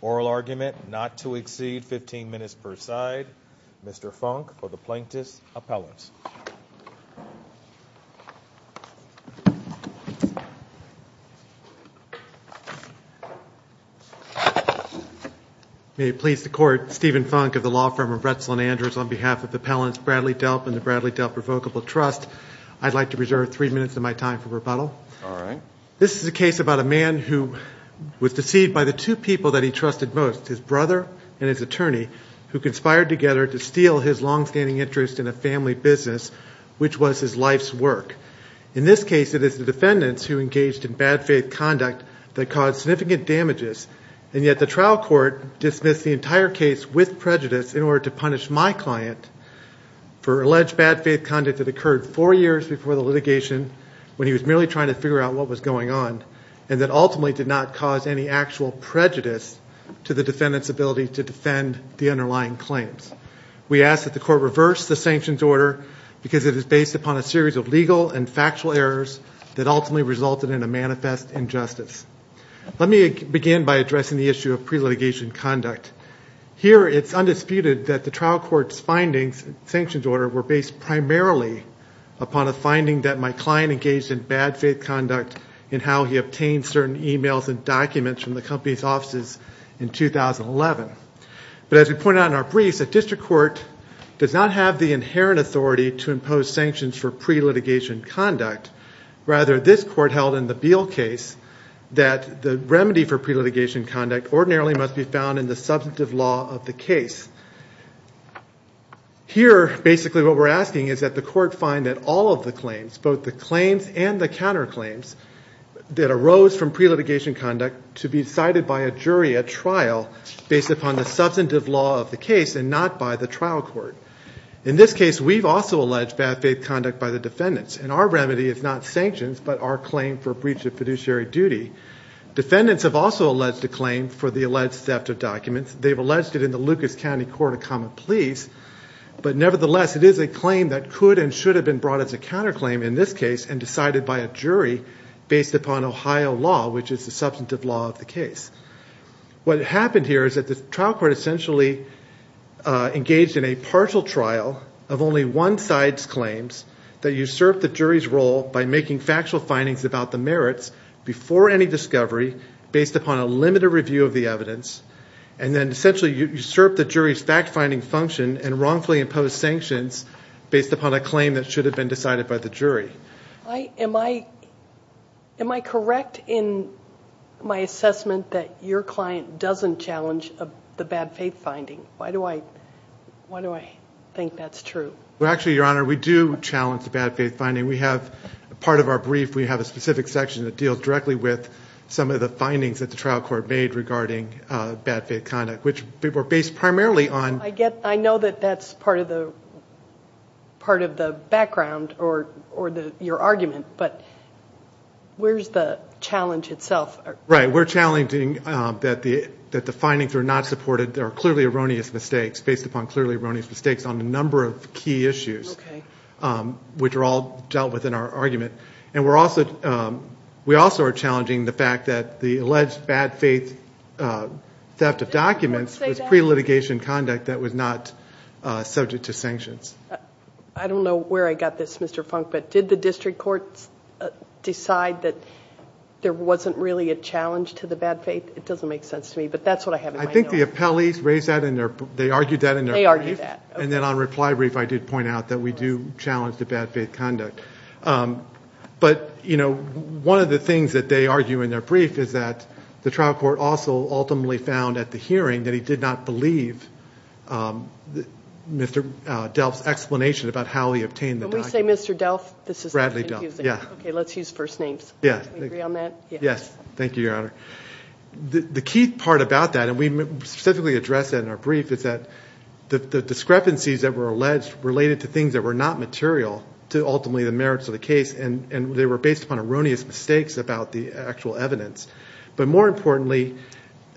Oral Argument Not to Exceed 15 Minutes per Side Mr. Funk for the Plaintiff's Appellants. May it please the Court, Stephen Funk of the law firm of Retzland Andrews on behalf of the Appellants Bradley Delp and the Bradley Delp Revocable Trust, I'd like to reserve three minutes of my time for rebuttal. This is a case about a man who was deceived by the two people that he trusted most, his longstanding interest in a family business, which was his life's work. In this case, it is the defendants who engaged in bad faith conduct that caused significant damages and yet the trial court dismissed the entire case with prejudice in order to punish my client for alleged bad faith conduct that occurred four years before the litigation when he was merely trying to figure out what was going on and that ultimately did not cause any actual prejudice to the defendant's ability to defend the underlying claims. We ask that the Court reverse the sanctions order because it is based upon a series of legal and factual errors that ultimately resulted in a manifest injustice. Let me begin by addressing the issue of pre-litigation conduct. Here it's undisputed that the trial court's findings, sanctions order, were based primarily upon a finding that my client engaged in bad faith conduct in how he obtained certain emails and documents from the company's offices in 2011. But as we pointed out in our briefs, a district court does not have the inherent authority to impose sanctions for pre-litigation conduct. Rather, this court held in the Beal case that the remedy for pre-litigation conduct ordinarily must be found in the substantive law of the case. Here basically what we're asking is that the court find that all of the claims, both the pre-litigation conduct, to be decided by a jury at trial based upon the substantive law of the case and not by the trial court. In this case, we've also alleged bad faith conduct by the defendants and our remedy is not sanctions but our claim for breach of fiduciary duty. Defendants have also alleged a claim for the alleged theft of documents. They've alleged it in the Lucas County Court of Common Pleas. But nevertheless, it is a claim that could and should have been brought as a counterclaim in this case and decided by a jury based upon Ohio law, which is the substantive law of the case. What happened here is that the trial court essentially engaged in a partial trial of only one side's claims that usurped the jury's role by making factual findings about the merits before any discovery based upon a limited review of the evidence. And then essentially usurped the jury's fact-finding function and wrongfully imposed sanctions based upon a claim that should have been decided by the jury. Am I correct in my assessment that your client doesn't challenge the bad faith finding? Why do I think that's true? Well, actually, Your Honor, we do challenge the bad faith finding. We have part of our brief, we have a specific section that deals directly with some of the findings that the trial court made regarding bad faith conduct, which were based primarily on... I know that that's part of the background or your argument, but where's the challenge itself? Right. We're challenging that the findings are not supported, there are clearly erroneous mistakes based upon clearly erroneous mistakes on a number of key issues, which are all dealt with in our argument. And we also are challenging the fact that the alleged bad faith theft of documents was pre-litigation conduct that was not subject to sanctions. I don't know where I got this, Mr. Funk, but did the district court decide that there wasn't really a challenge to the bad faith? It doesn't make sense to me, but that's what I have in my mind. I think the appellees raised that in their... They argued that in their brief. They argued that. And then on reply brief, I did point out that we do challenge the bad faith conduct. But one of the things that they argue in their brief is that the trial court also ultimately found at the hearing that he did not believe Mr. Delph's explanation about how he obtained the documents. When we say Mr. Delph, this is confusing. Bradley Delph, yeah. Okay, let's use first names. Yeah. Do we agree on that? Yes. Yes. Thank you, Your Honor. The key part about that, and we specifically address that in our brief, is that the discrepancies that were alleged related to things that were not material to ultimately the merits of the case, and they were based upon erroneous mistakes about the actual evidence. But more importantly,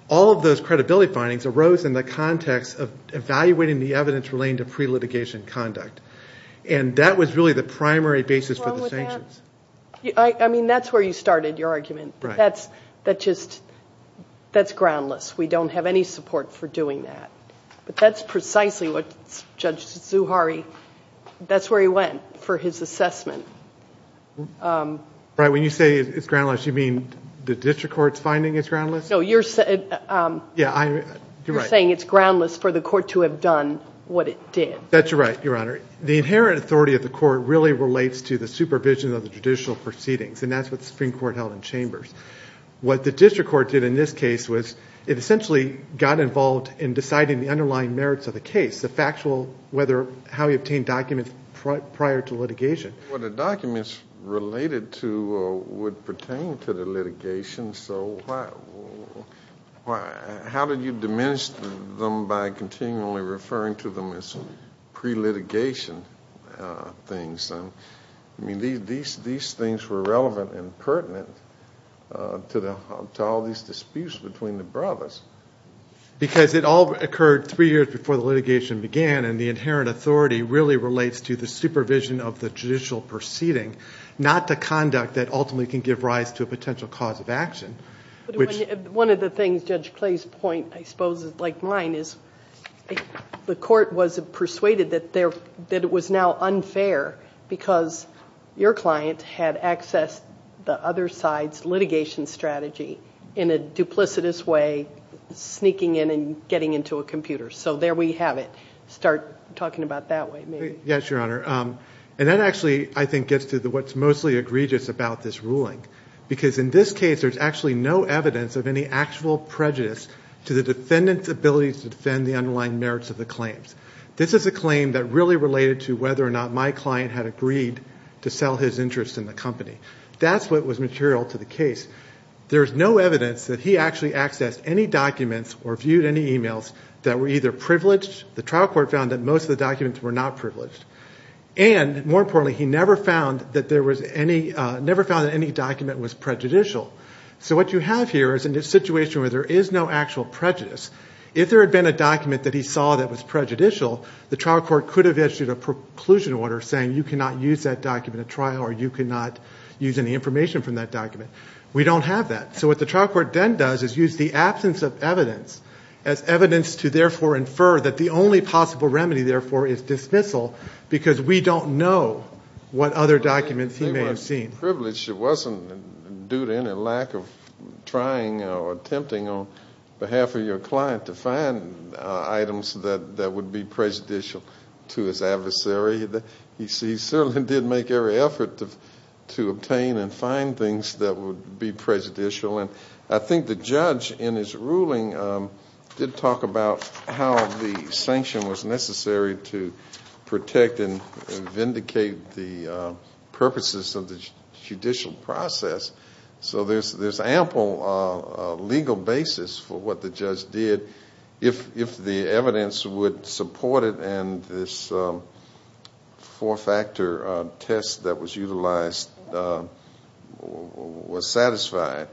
all of those credibility findings arose in the context of evaluating the evidence relating to pre-litigation conduct. And that was really the primary basis for the sanctions. I mean, that's where you started your argument. Right. That's just... That's groundless. We don't have any support for doing that. But that's precisely what Judge Zuhari... That's where he went for his assessment. Right. When you say it's groundless, you mean the district court's finding it's groundless? No, you're saying... Yeah, I... You're right. You're saying it's groundless for the court to have done what it did. That's right, Your Honor. The inherent authority of the court really relates to the supervision of the judicial proceedings, and that's what the Supreme Court held in Chambers. What the district court did in this case was it essentially got involved in deciding the underlying merits of the case, the factual whether... How we obtained documents prior to litigation. Well, the documents related to or would pertain to the litigation, so why... How did you diminish them by continually referring to them as pre-litigation things? I mean, these things were relevant and pertinent to all these disputes between the brothers. Because it all occurred three years before the litigation began, and the inherent authority really relates to the supervision of the judicial proceeding, not the conduct that ultimately can give rise to a potential cause of action, which... One of the things Judge Clay's point, I suppose, is like mine, is the court was persuaded that it was now unfair because your client had accessed the other side's litigation strategy in a duplicitous way, sneaking in and getting into a computer. So there we have it. Start talking about that way, maybe. Yes, Your Honor. And that actually, I think, gets to what's mostly egregious about this ruling. Because in this case, there's actually no evidence of any actual prejudice to the defendant's ability to defend the underlying merits of the claims. This is a claim that really related to whether or not my client had agreed to sell his interest in the company. That's what was material to the case. There's no evidence that he actually accessed any documents or viewed any emails that were either privileged. The trial court found that most of the documents were not privileged. And more importantly, he never found that any document was prejudicial. So what you have here is a situation where there is no actual prejudice. If there had been a document that he saw that was prejudicial, the trial court could have issued a preclusion order saying you cannot use that document at trial or you cannot use any information from that document. We don't have that. So what the trial court then does is use the absence of evidence as evidence to therefore infer that the only possible remedy, therefore, is dismissal because we don't know what other documents he may have seen. It wasn't privileged. It wasn't due to any lack of trying or attempting on behalf of your client to find items that would be prejudicial to his adversary. He certainly did make every effort to obtain and find things that would be prejudicial. I think the judge in his ruling did talk about how the sanction was necessary to protect and vindicate the purposes of the judicial process. So there's ample legal basis for what the judge did. If the evidence would support it and this four-factor test that was utilized was satisfied...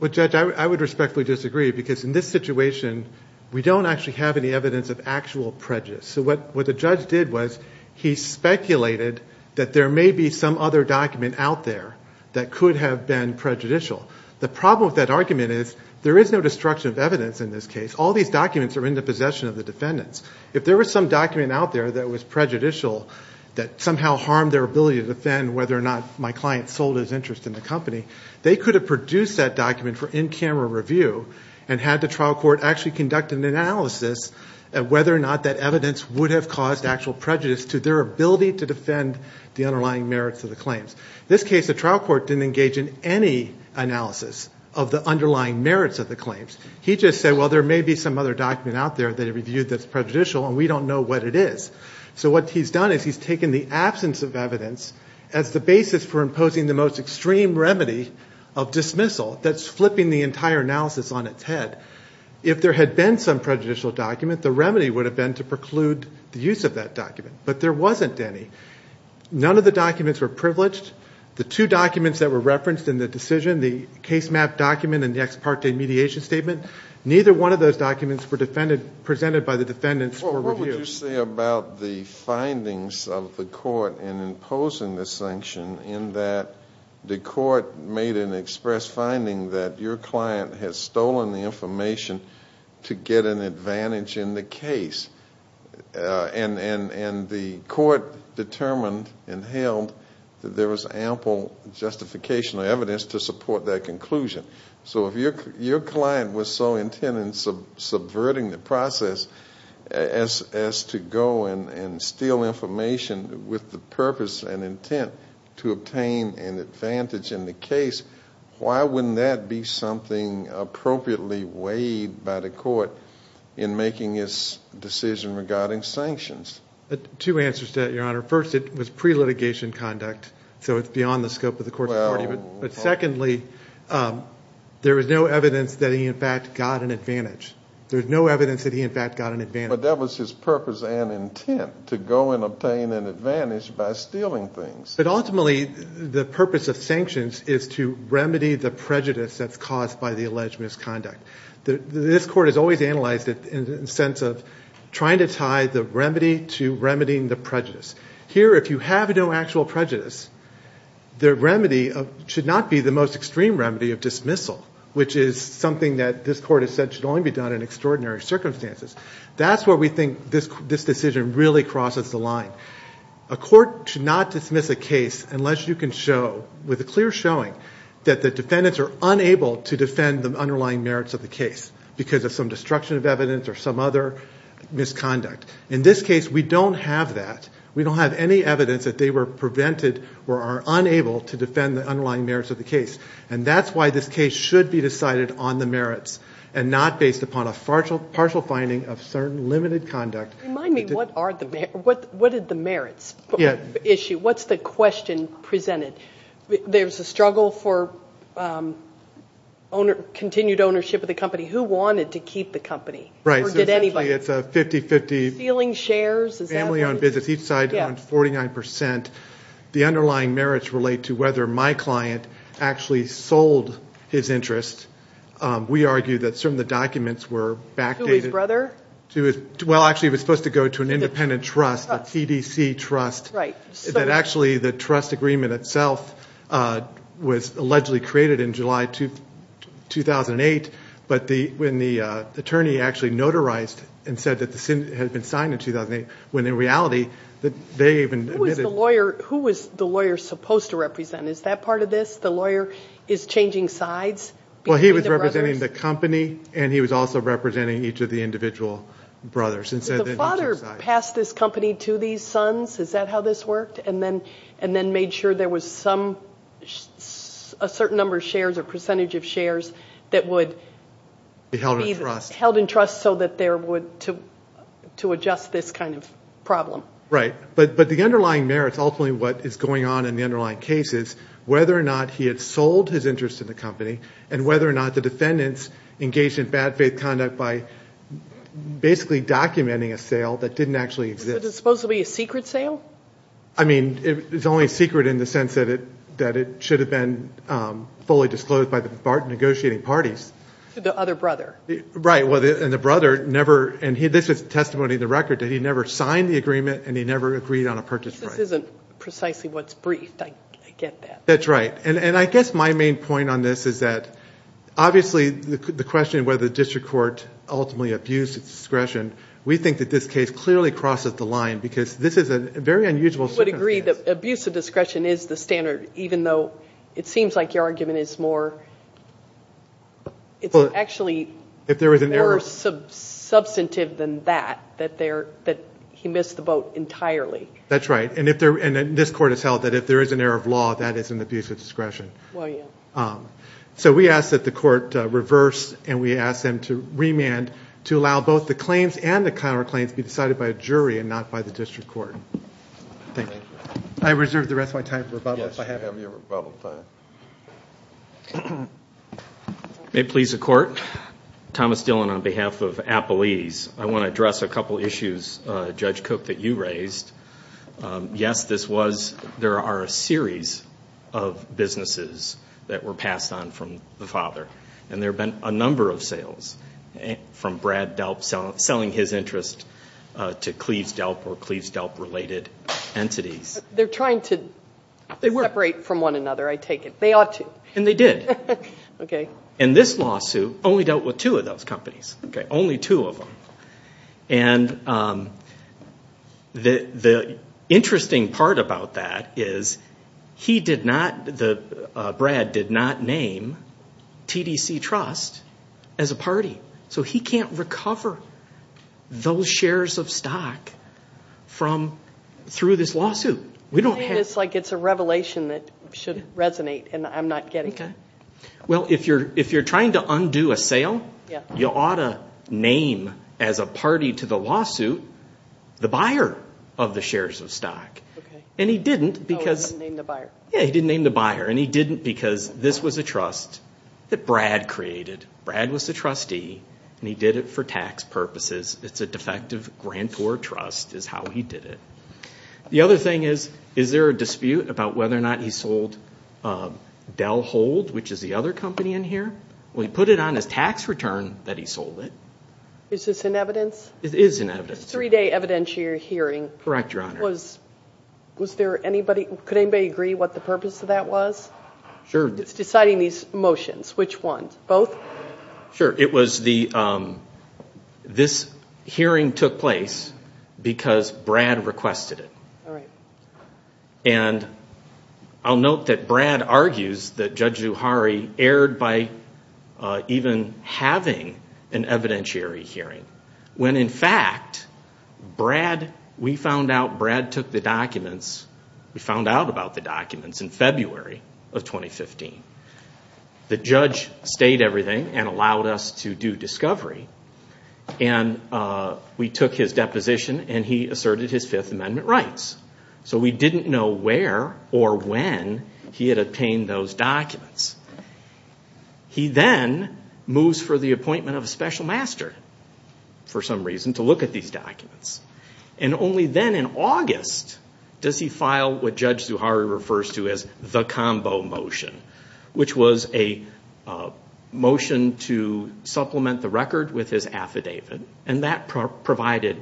Well, Judge, I would respectfully disagree because in this situation, we don't actually have any evidence of actual prejudice. So what the judge did was he speculated that there may be some other document out there that could have been prejudicial. The problem with that argument is there is no destruction of evidence in this case. All these documents are in the possession of the defendants. If there was some document out there that was prejudicial that somehow harmed their ability to defend whether or not my client sold his interest in the company, they could have produced that document for in-camera review and had the trial court actually conduct an analysis of whether or not that evidence would have caused actual prejudice to their ability to defend the underlying merits of the claims. In this case, the trial court didn't engage in any analysis of the underlying merits of the claims. He just said, well, there may be some other document out there that he reviewed that's prejudicial and we don't know what it is. So what he's done is he's taken the absence of evidence as the basis for imposing the most extreme remedy of dismissal that's flipping the entire analysis on its head. If there had been some prejudicial document, the remedy would have been to preclude the use of that document. But there wasn't any. None of the documents were privileged. The two documents that were referenced in the decision, the case map document and the ex parte mediation statement, neither one of those documents were presented by the defendants for review. Well, what would you say about the findings of the court in imposing the sanction in that the court made an express finding that your client has stolen the information to get an advantage in the case, why wouldn't that be something appropriately weighed by the court in making its decision regarding sanctions? Two answers to that, Your Honor. First, it was pre-litigation conduct, so it's beyond the scope of the court's authority. But secondly, there was no evidence that he in fact got an advantage. There's no evidence that he in fact got an advantage. But that was his purpose and intent, to go and obtain an advantage by stealing things. But ultimately, the purpose of sanctions is to remedy the prejudice that's caused by the alleged misconduct. This court has always analyzed it in the sense of trying to tie the remedy to remedying the prejudice. Here, if you have no actual prejudice, the remedy should not be the most extreme remedy of dismissal, which is something that this court has said should only be done in extraordinary circumstances. That's where we think this decision really crosses the line. A court should not dismiss a case unless you can show, with a clear showing, that the defendants are unable to defend the underlying merits of the case because of some destruction of evidence or some other misconduct. In this case, we don't have that. We don't have any evidence that they were prevented or are unable to defend the underlying merits of the case. And that's why this case should be decided on the merits and not based upon a partial finding of certain limited conduct. Remind me, what are the merits? What's the question presented? There's a struggle for continued ownership of the company. Who wanted to keep the company? Right. Or did anybody? It's a 50-50. Ceiling shares? Family owned business. Each side owns 49%. The underlying merits relate to whether my client actually sold his interest. We argue that some of the documents were backdated. To his brother? Well, actually, it was supposed to go to an independent trust, a TDC trust. Right. Actually, the trust agreement itself was allegedly created in July 2008. But when the attorney actually notarized and said that it had been signed in 2008, when in reality, they even admitted... Who was the lawyer supposed to represent? Is that part of this? The lawyer is changing sides? Well, he was representing the company and he was also representing each of the individual brothers. Did the father pass this company to these sons? Is that how this worked? And then made sure there was a certain number of shares or percentage of shares that would be held in trust so that there would... To adjust this kind of problem. Right. But the underlying merits, ultimately, what is going on in the underlying case is whether or not he had sold his interest in the company and whether or not the defendants engaged in bad faith conduct by basically documenting a sale that didn't actually exist. Is it supposed to be a secret sale? I mean, it's only secret in the sense that it should have been fully disclosed by the negotiating parties. The other brother. Right. And the brother never... And this is testimony in the record that he never signed the agreement and he never agreed on a purchase right. This isn't precisely what's briefed. I get that. That's right. And I guess my main point on this is that, obviously, the question of whether the district court ultimately abused its discretion, we think that this case clearly crosses the line because this is a very unusual circumstance. I would agree that abuse of discretion is the standard, even though it seems like your argument is more... It's actually more substantive than that, that he missed the boat entirely. That's right. And this court has held that if there is an error of law, that is an abuse of discretion. Well, yeah. So we ask that the court reverse and we ask them to remand to allow both the claims and the counterclaims to be decided by a jury and not by the district court. Thank you. I reserve the rest of my time for rebuttal, if I have it. Yes, you have your rebuttal time. May it please the court. Thomas Dillon on behalf of Appalese. I want to address a couple issues, Judge Cook, that you raised. Yes, this was... There are a series of businesses that were passed on from the father and there have been a number of sales from Brad Delp selling his interest to Cleves Delp or Cleves Delp-related entities. They're trying to separate from one another, I take it. They ought to. And they did. Okay. And this lawsuit only dealt with two of those companies. Okay. Only two of them. And the interesting part about that is he did not... Brad did not name TDC Trust as a party. So he can't recover those shares of stock through this lawsuit. We don't have... It's like it's a revelation that should resonate and I'm not getting it. Okay. Well, if you're trying to undo a sale, you ought to name as a party to the lawsuit the buyer of the shares of stock. Okay. And he didn't because... Oh, he didn't name the buyer. Yeah, he didn't name the buyer. And he didn't because this was a trust that Brad created. Brad was the trustee and he did it for tax purposes. It's a defective grantor trust is how he did it. The other thing is, is there a dispute about whether or not he sold Dell Hold, which is the other company in here? Well, he put it on his tax return that he sold it. Is this in evidence? It is in evidence. It's a three-day evidentiary hearing. Correct, Your Honor. Was there anybody... Could anybody agree what the purpose of that was? Sure. It's deciding these motions. Which ones? Both? Sure. It was the... This hearing took place because Brad requested it. All right. And I'll note that Brad argues that Judge Zuhari erred by even having an evidentiary hearing when, in fact, Brad... We found out Brad took the documents... We found out about the documents in February of 2015. The judge stayed everything and allowed us to do discovery. And we took his deposition and he asserted his Fifth Amendment rights. So we didn't know where or when he had obtained those documents. He then moves for the appointment of a special master, for some reason, to look at these documents. And only then, in August, does he file what Judge Zuhari refers to as the combo motion, which was a motion to supplement the record with his affidavit. And that provided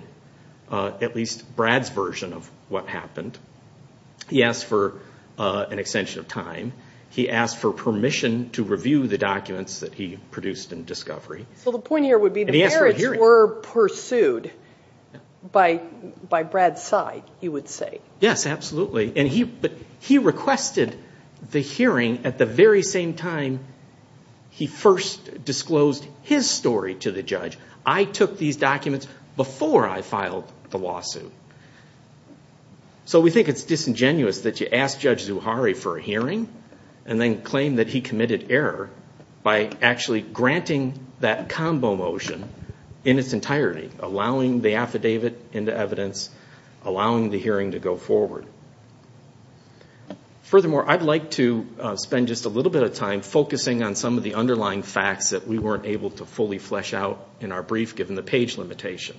at least Brad's version of what happened. He asked for an extension of time. He asked for permission to review the documents that he produced in discovery. So the point here would be the merits were pursued by Brad's side, you would say. Yes, absolutely. But he requested the hearing at the very same time he first disclosed his story to the judge. I took these documents before I filed the lawsuit. So we think it's disingenuous that you ask Judge Zuhari for a hearing and then claim that he committed error by actually granting that combo motion in its entirety, allowing the affidavit into evidence, allowing the hearing to go forward. Furthermore, I'd like to spend just a little bit of time focusing on some of the underlying facts that we weren't able to fully flesh out in our brief, given the page limitation.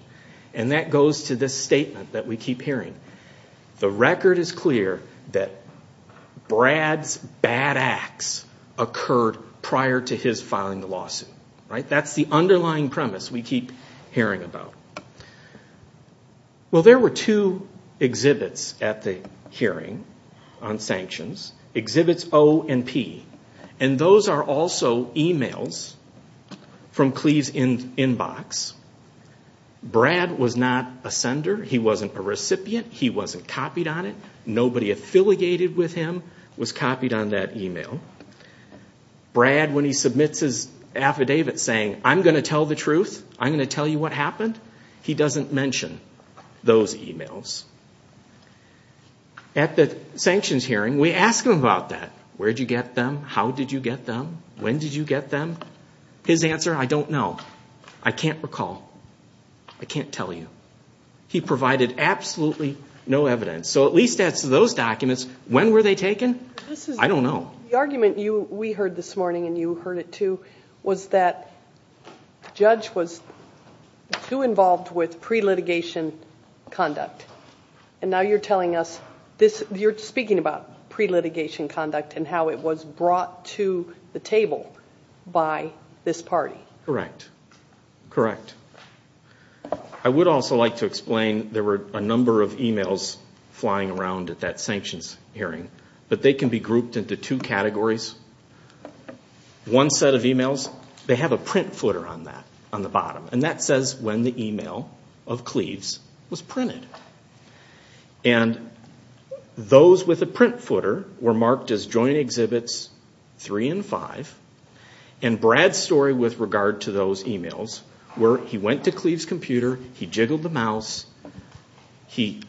And that goes to this statement that we keep hearing. The record is clear that Brad's bad acts occurred prior to his filing the lawsuit. That's the underlying premise we keep hearing about. Well, there were two exhibits at the hearing on sanctions. Exhibits O and P. And those are also emails from Cleve's inbox. Brad was not a sender. He wasn't a recipient. He wasn't copied on it. Nobody affiliated with him was copied on that email. Brad, when he submits his affidavit saying, I'm going to tell the truth, I'm going to tell you what happened, he doesn't mention those emails. At the sanctions hearing, we ask him about that. Where did you get them? How did you get them? When did you get them? His answer, I don't know. I can't recall. I can't tell you. He provided absolutely no evidence. So at least as to those documents, when were they taken? I don't know. The argument we heard this morning, and you heard it too, was that the judge was too involved with pre-litigation conduct. And now you're telling us you're speaking about pre-litigation conduct and how it was brought to the table by this party. Correct. Correct. I would also like to explain there were a number of emails flying around at that sanctions hearing. But they can be grouped into two categories. One set of emails, they have a print footer on that, on the bottom. And that says when the email of Cleaves was printed. And those with a print footer were marked as Joint Exhibits 3 and 5. And Brad's story with regard to those emails were, he went to Cleaves' computer, he jiggled the mouse, he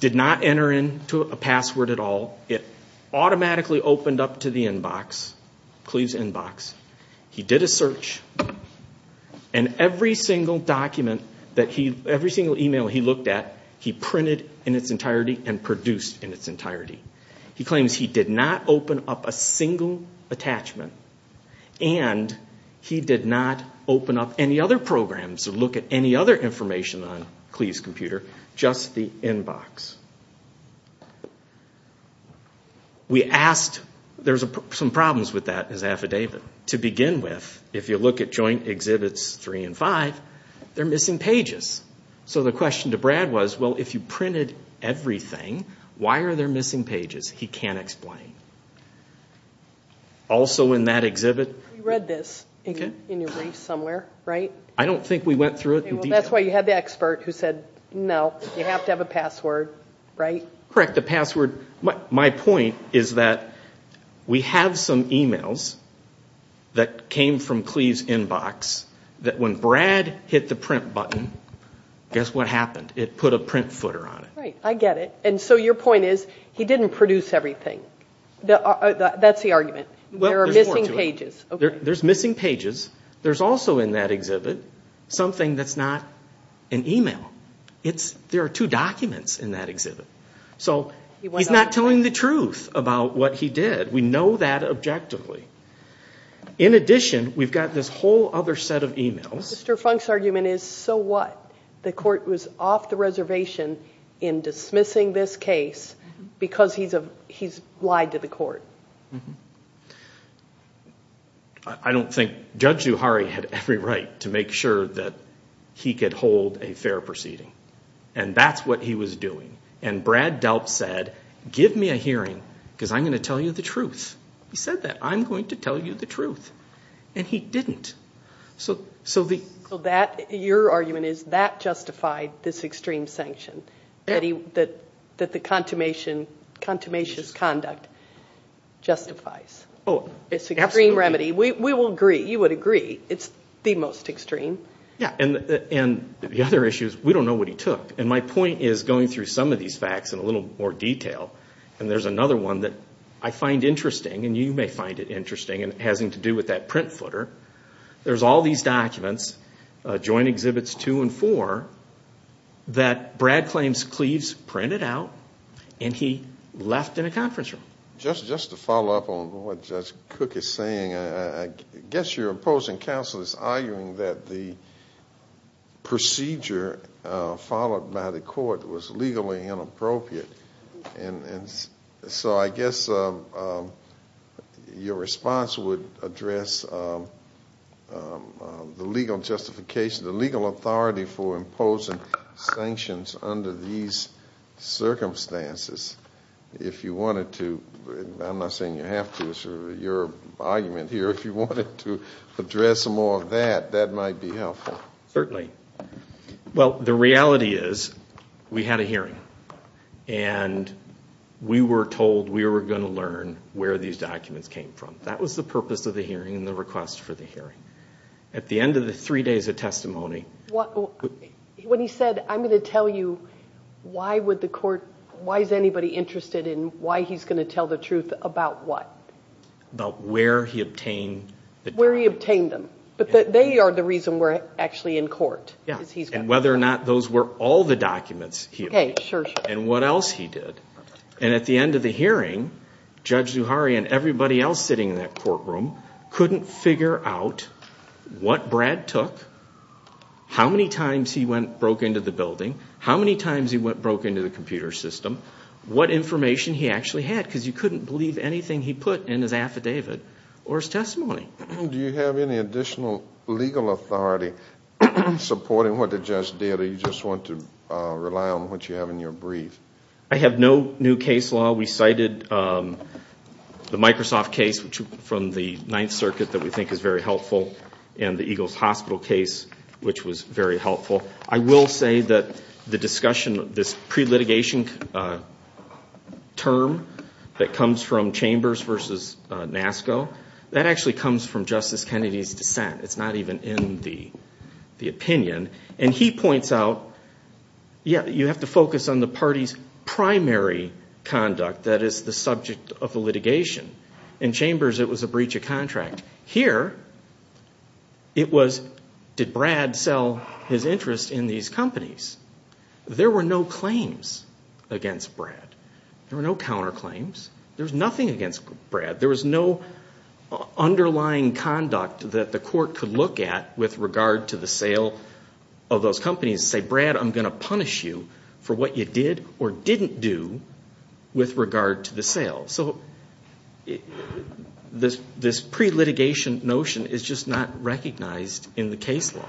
did not enter into a password at all. It automatically opened up to the inbox, Cleaves' inbox. He did a search. And every single document, every single email he looked at, he printed in its entirety and produced in its entirety. He claims he did not open up a single attachment. And he did not open up any other programs or look at any other information on Cleaves' computer. Just the inbox. We asked, there's some problems with that as affidavit. To begin with, if you look at Joint Exhibits 3 and 5, they're missing pages. So the question to Brad was, well, if you printed everything, why are there missing pages? He can't explain. Also in that exhibit. We read this in your brief somewhere, right? I don't think we went through it in detail. That's why you had the expert who said, no, you have to have a password, right? Correct, the password. My point is that we have some emails that came from Cleaves' inbox that when Brad hit the print button, guess what happened? It put a print footer on it. Right, I get it. And so your point is, he didn't produce everything. That's the argument. There are missing pages. There's missing pages. There's also in that exhibit something that's not an email. There are two documents in that exhibit. So he's not telling the truth about what he did. We know that objectively. In addition, we've got this whole other set of emails. Mr. Funk's argument is, so what? The court was off the reservation in dismissing this case because he's lied to the court. I don't think Judge Zuhari had every right to make sure that he could hold a fair proceeding. And that's what he was doing. And Brad Delp said, give me a hearing because I'm going to tell you the truth. He said that. I'm going to tell you the truth. And he didn't. Your argument is that justified this extreme sanction, that the contumacious conduct justifies. It's an extreme remedy. We will agree. You would agree. It's the most extreme. And the other issue is, we don't know what he took. And my point is, going through some of these facts in a little more detail, and there's another one that I find interesting, and you may find it interesting, and it has to do with that print footer. There's all these documents, Joint Exhibits 2 and 4, that Brad claims Cleves printed out, and he left in a conference room. Just to follow up on what Judge Cook is saying, I guess your opposing counsel is arguing that the procedure followed by the court was legally inappropriate. And so I guess your response would address the legal justification, the legal authority for imposing sanctions under these circumstances, if you wanted to. I'm not saying you have to. It's sort of your argument here. If you wanted to address more of that, that might be helpful. Certainly. Well, the reality is, we had a hearing, and we were told we were going to learn where these documents came from. That was the purpose of the hearing and the request for the hearing. At the end of the three days of testimony. When he said, I'm going to tell you why would the court, why is anybody interested in why he's going to tell the truth about what? About where he obtained the documents. Where he obtained them. But they are the reason we're actually in court. And whether or not those were all the documents he obtained. Okay, sure, sure. And what else he did. And at the end of the hearing, Judge Zuhari and everybody else sitting in that courtroom couldn't figure out what Brad took, how many times he broke into the building, how many times he broke into the computer system, what information he actually had. Because you couldn't believe anything he put in his affidavit or his testimony. Do you have any additional legal authority supporting what the judge did? Or do you just want to rely on what you have in your brief? I have no new case law. While we cited the Microsoft case, which from the Ninth Circuit that we think is very helpful, and the Eagles Hospital case, which was very helpful, I will say that the discussion, this pre-litigation term that comes from Chambers versus NASCO, that actually comes from Justice Kennedy's dissent. It's not even in the opinion. And he points out, yeah, you have to focus on the party's primary conduct, that is the subject of the litigation. In Chambers it was a breach of contract. Here it was, did Brad sell his interest in these companies? There were no claims against Brad. There were no counterclaims. There was nothing against Brad. There was no underlying conduct that the court could look at with regard to the sale of those companies and say, Brad, I'm going to punish you for what you did or didn't do with regard to the sale. So this pre-litigation notion is just not recognized in the case law.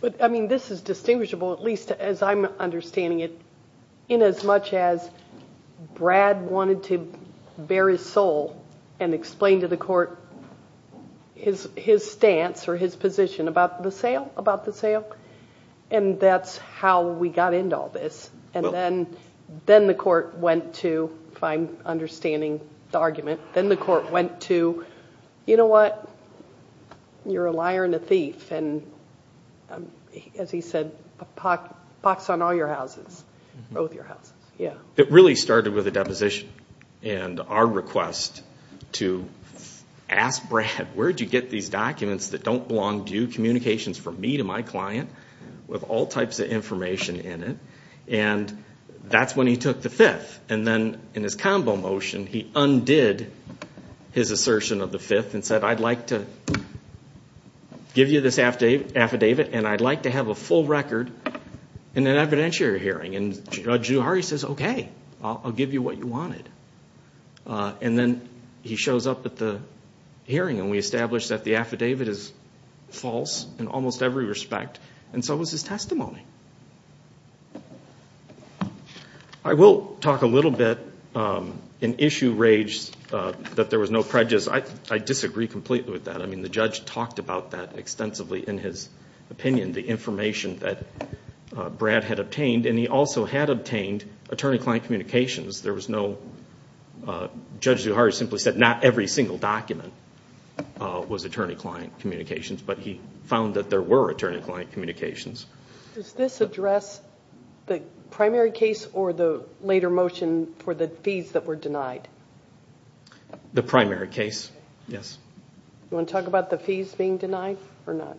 But, I mean, this is distinguishable, at least as I'm understanding it, inasmuch as Brad wanted to bare his soul and explain to the court his stance or his position about the sale. And that's how we got into all this. And then the court went to, if I'm understanding the argument, then the court went to, you know what, you're a liar and a thief. And as he said, pox on all your houses, both your houses. It really started with a deposition. And our request to ask Brad, where did you get these documents that don't belong to you, communications from me to my client, with all types of information in it. And that's when he took the fifth. And then in his combo motion he undid his assertion of the fifth and said, I'd like to give you this affidavit and I'd like to have a full record in an evidentiary hearing. And Judge Juhari says, okay, I'll give you what you wanted. And then he shows up at the hearing and we establish that the affidavit is false in almost every respect. And so was his testimony. I will talk a little bit in issue rage that there was no prejudice. I disagree completely with that. I mean, the judge talked about that extensively in his opinion, the information that Brad had obtained. And he also had obtained attorney-client communications. There was no, Judge Juhari simply said, not every single document was attorney-client communications. But he found that there were attorney-client communications. Does this address the primary case or the later motion for the fees that were denied? The primary case, yes. Do you want to talk about the fees being denied or not?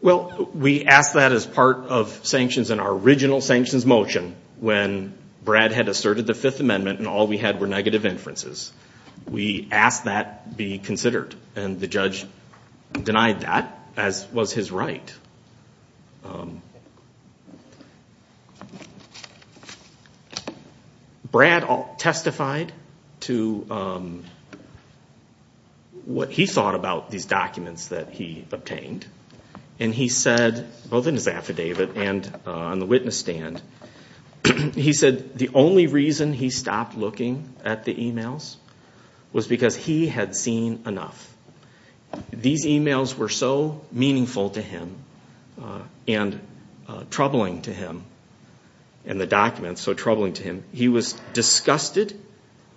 Well, we asked that as part of sanctions in our original sanctions motion when Brad had asserted the Fifth Amendment and all we had were negative inferences. We asked that be considered. And the judge denied that, as was his right. Brad testified to what he thought about these documents that he obtained. And he said, both in his affidavit and on the witness stand, he said the only reason he stopped looking at the emails was because he had seen enough. These emails were so meaningful to him and troubling to him and the documents so troubling to him. He was disgusted.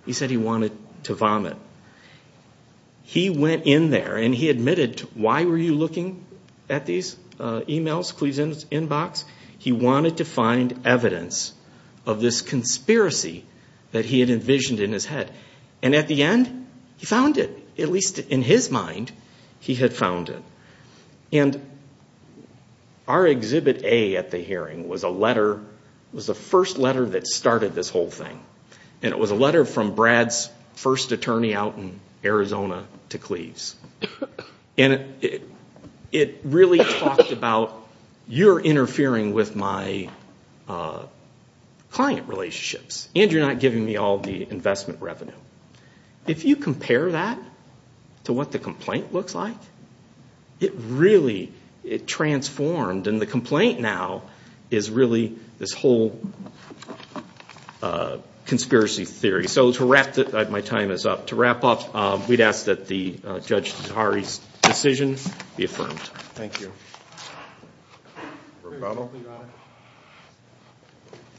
He said he wanted to vomit. He went in there and he admitted, why were you looking at these emails, Cleve's inbox? He wanted to find evidence of this conspiracy that he had envisioned in his head. And at the end, he found it. At least in his mind, he had found it. And our Exhibit A at the hearing was the first letter that started this whole thing. And it was a letter from Brad's first attorney out in Arizona to Cleve's. And it really talked about, you're interfering with my client relationships and you're not giving me all the investment revenue. If you compare that to what the complaint looks like, it really transformed. And the complaint now is really this whole conspiracy theory. So my time is up. To wrap up, we'd ask that the Judge Zaharie's decision be affirmed. Thank you.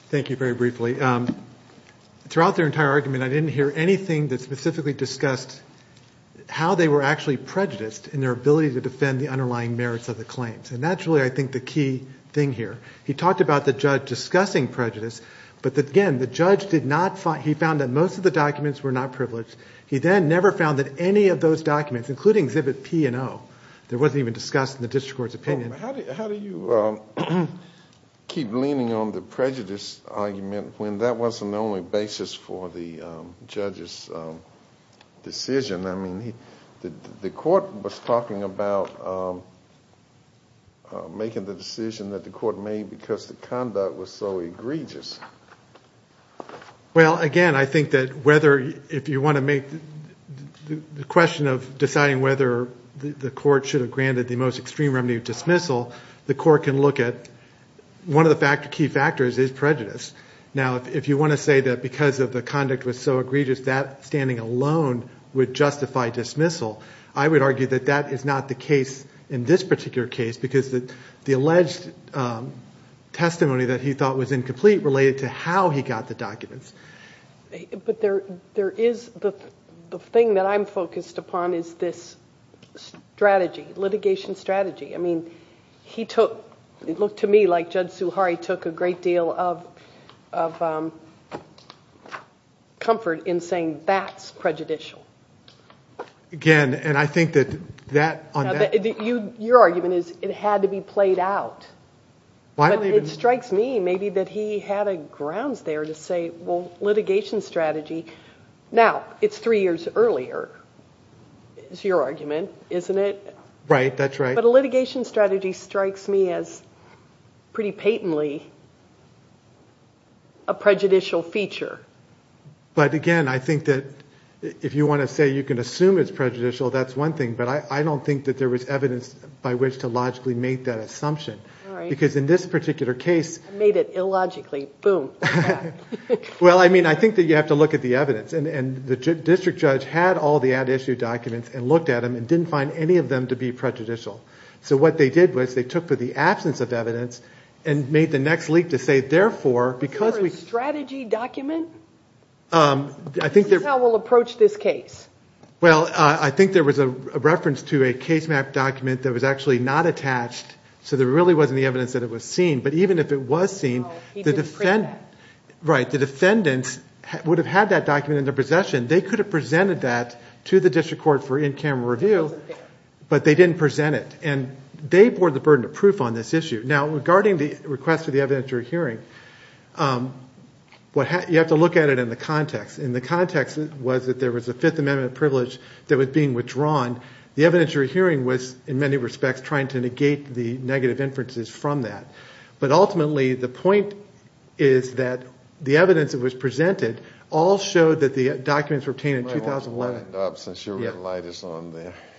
Thank you very briefly. Throughout their entire argument, I didn't hear anything that specifically discussed how they were actually prejudiced in their ability to defend the underlying merits of the claims. And that's really, I think, the key thing here. He talked about the judge discussing prejudice. But again, the judge did not find, he found that most of the documents were not privileged. He then never found that any of those documents, including Exhibit P and O, there wasn't even discussed in the district court's opinion. How do you keep leaning on the prejudice argument when that wasn't the only basis for the judge's decision? The court was talking about making the decision that the court made because the conduct was so egregious. Well, again, I think that whether, if you want to make the question of deciding whether the court should have granted the most extreme remedy of dismissal, the court can look at one of the key factors is prejudice. Now, if you want to say that because of the conduct was so egregious, that standing alone would justify dismissal, I would argue that that is not the case in this particular case because the alleged testimony that he thought was incomplete related to how he got the documents. But there is, the thing that I'm focused upon is this strategy, litigation strategy. I mean, he took, it looked to me like Judge Suhari took a great deal of comfort in saying, that's prejudicial. Again, and I think that that, on that. Your argument is it had to be played out. But it strikes me maybe that he had a grounds there to say, well, litigation strategy. Now, it's three years earlier, is your argument, isn't it? Right, that's right. But a litigation strategy strikes me as pretty patently a prejudicial feature. But again, I think that if you want to say you can assume it's prejudicial, that's one thing. But I don't think that there was evidence by which to logically make that assumption. Because in this particular case. I made it illogically, boom. Well, I mean, I think that you have to look at the evidence. And the district judge had all the ad issue documents and looked at them and didn't find any of them to be prejudicial. So what they did was they took for the absence of evidence and made the next leak to say, therefore, because we. Is there a strategy document? This is how we'll approach this case. Well, I think there was a reference to a case map document that was actually not attached. So there really wasn't the evidence that it was seen. But even if it was seen. No, he didn't print that. Right, the defendants would have had that document in their possession. They could have presented that to the district court for in-camera review. It wasn't there. But they didn't present it. And they bore the burden of proof on this issue. Now, regarding the request for the evidentiary hearing, you have to look at it in the context. And the context was that there was a Fifth Amendment privilege that was being withdrawn. The evidentiary hearing was, in many respects, trying to negate the negative inferences from that. But ultimately, the point is that the evidence that was presented all showed that the documents were obtained in 2011.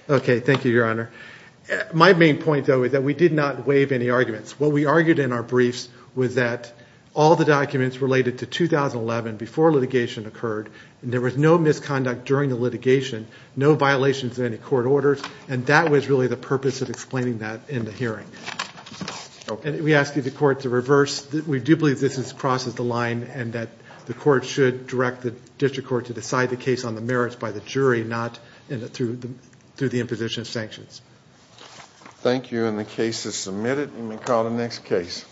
OK, thank you, Your Honor. My main point, though, is that we did not waive any arguments. What we argued in our briefs was that all the documents related to 2011 before litigation occurred, and there was no misconduct during the litigation, no violations of any court orders. And that was really the purpose of explaining that in the hearing. And we ask you, the court, to reverse. We do believe this crosses the line and that the court should direct the district court to decide the case on the merits by the jury, not through the imposition of sanctions. Thank you. And the case is submitted. You may call the next case.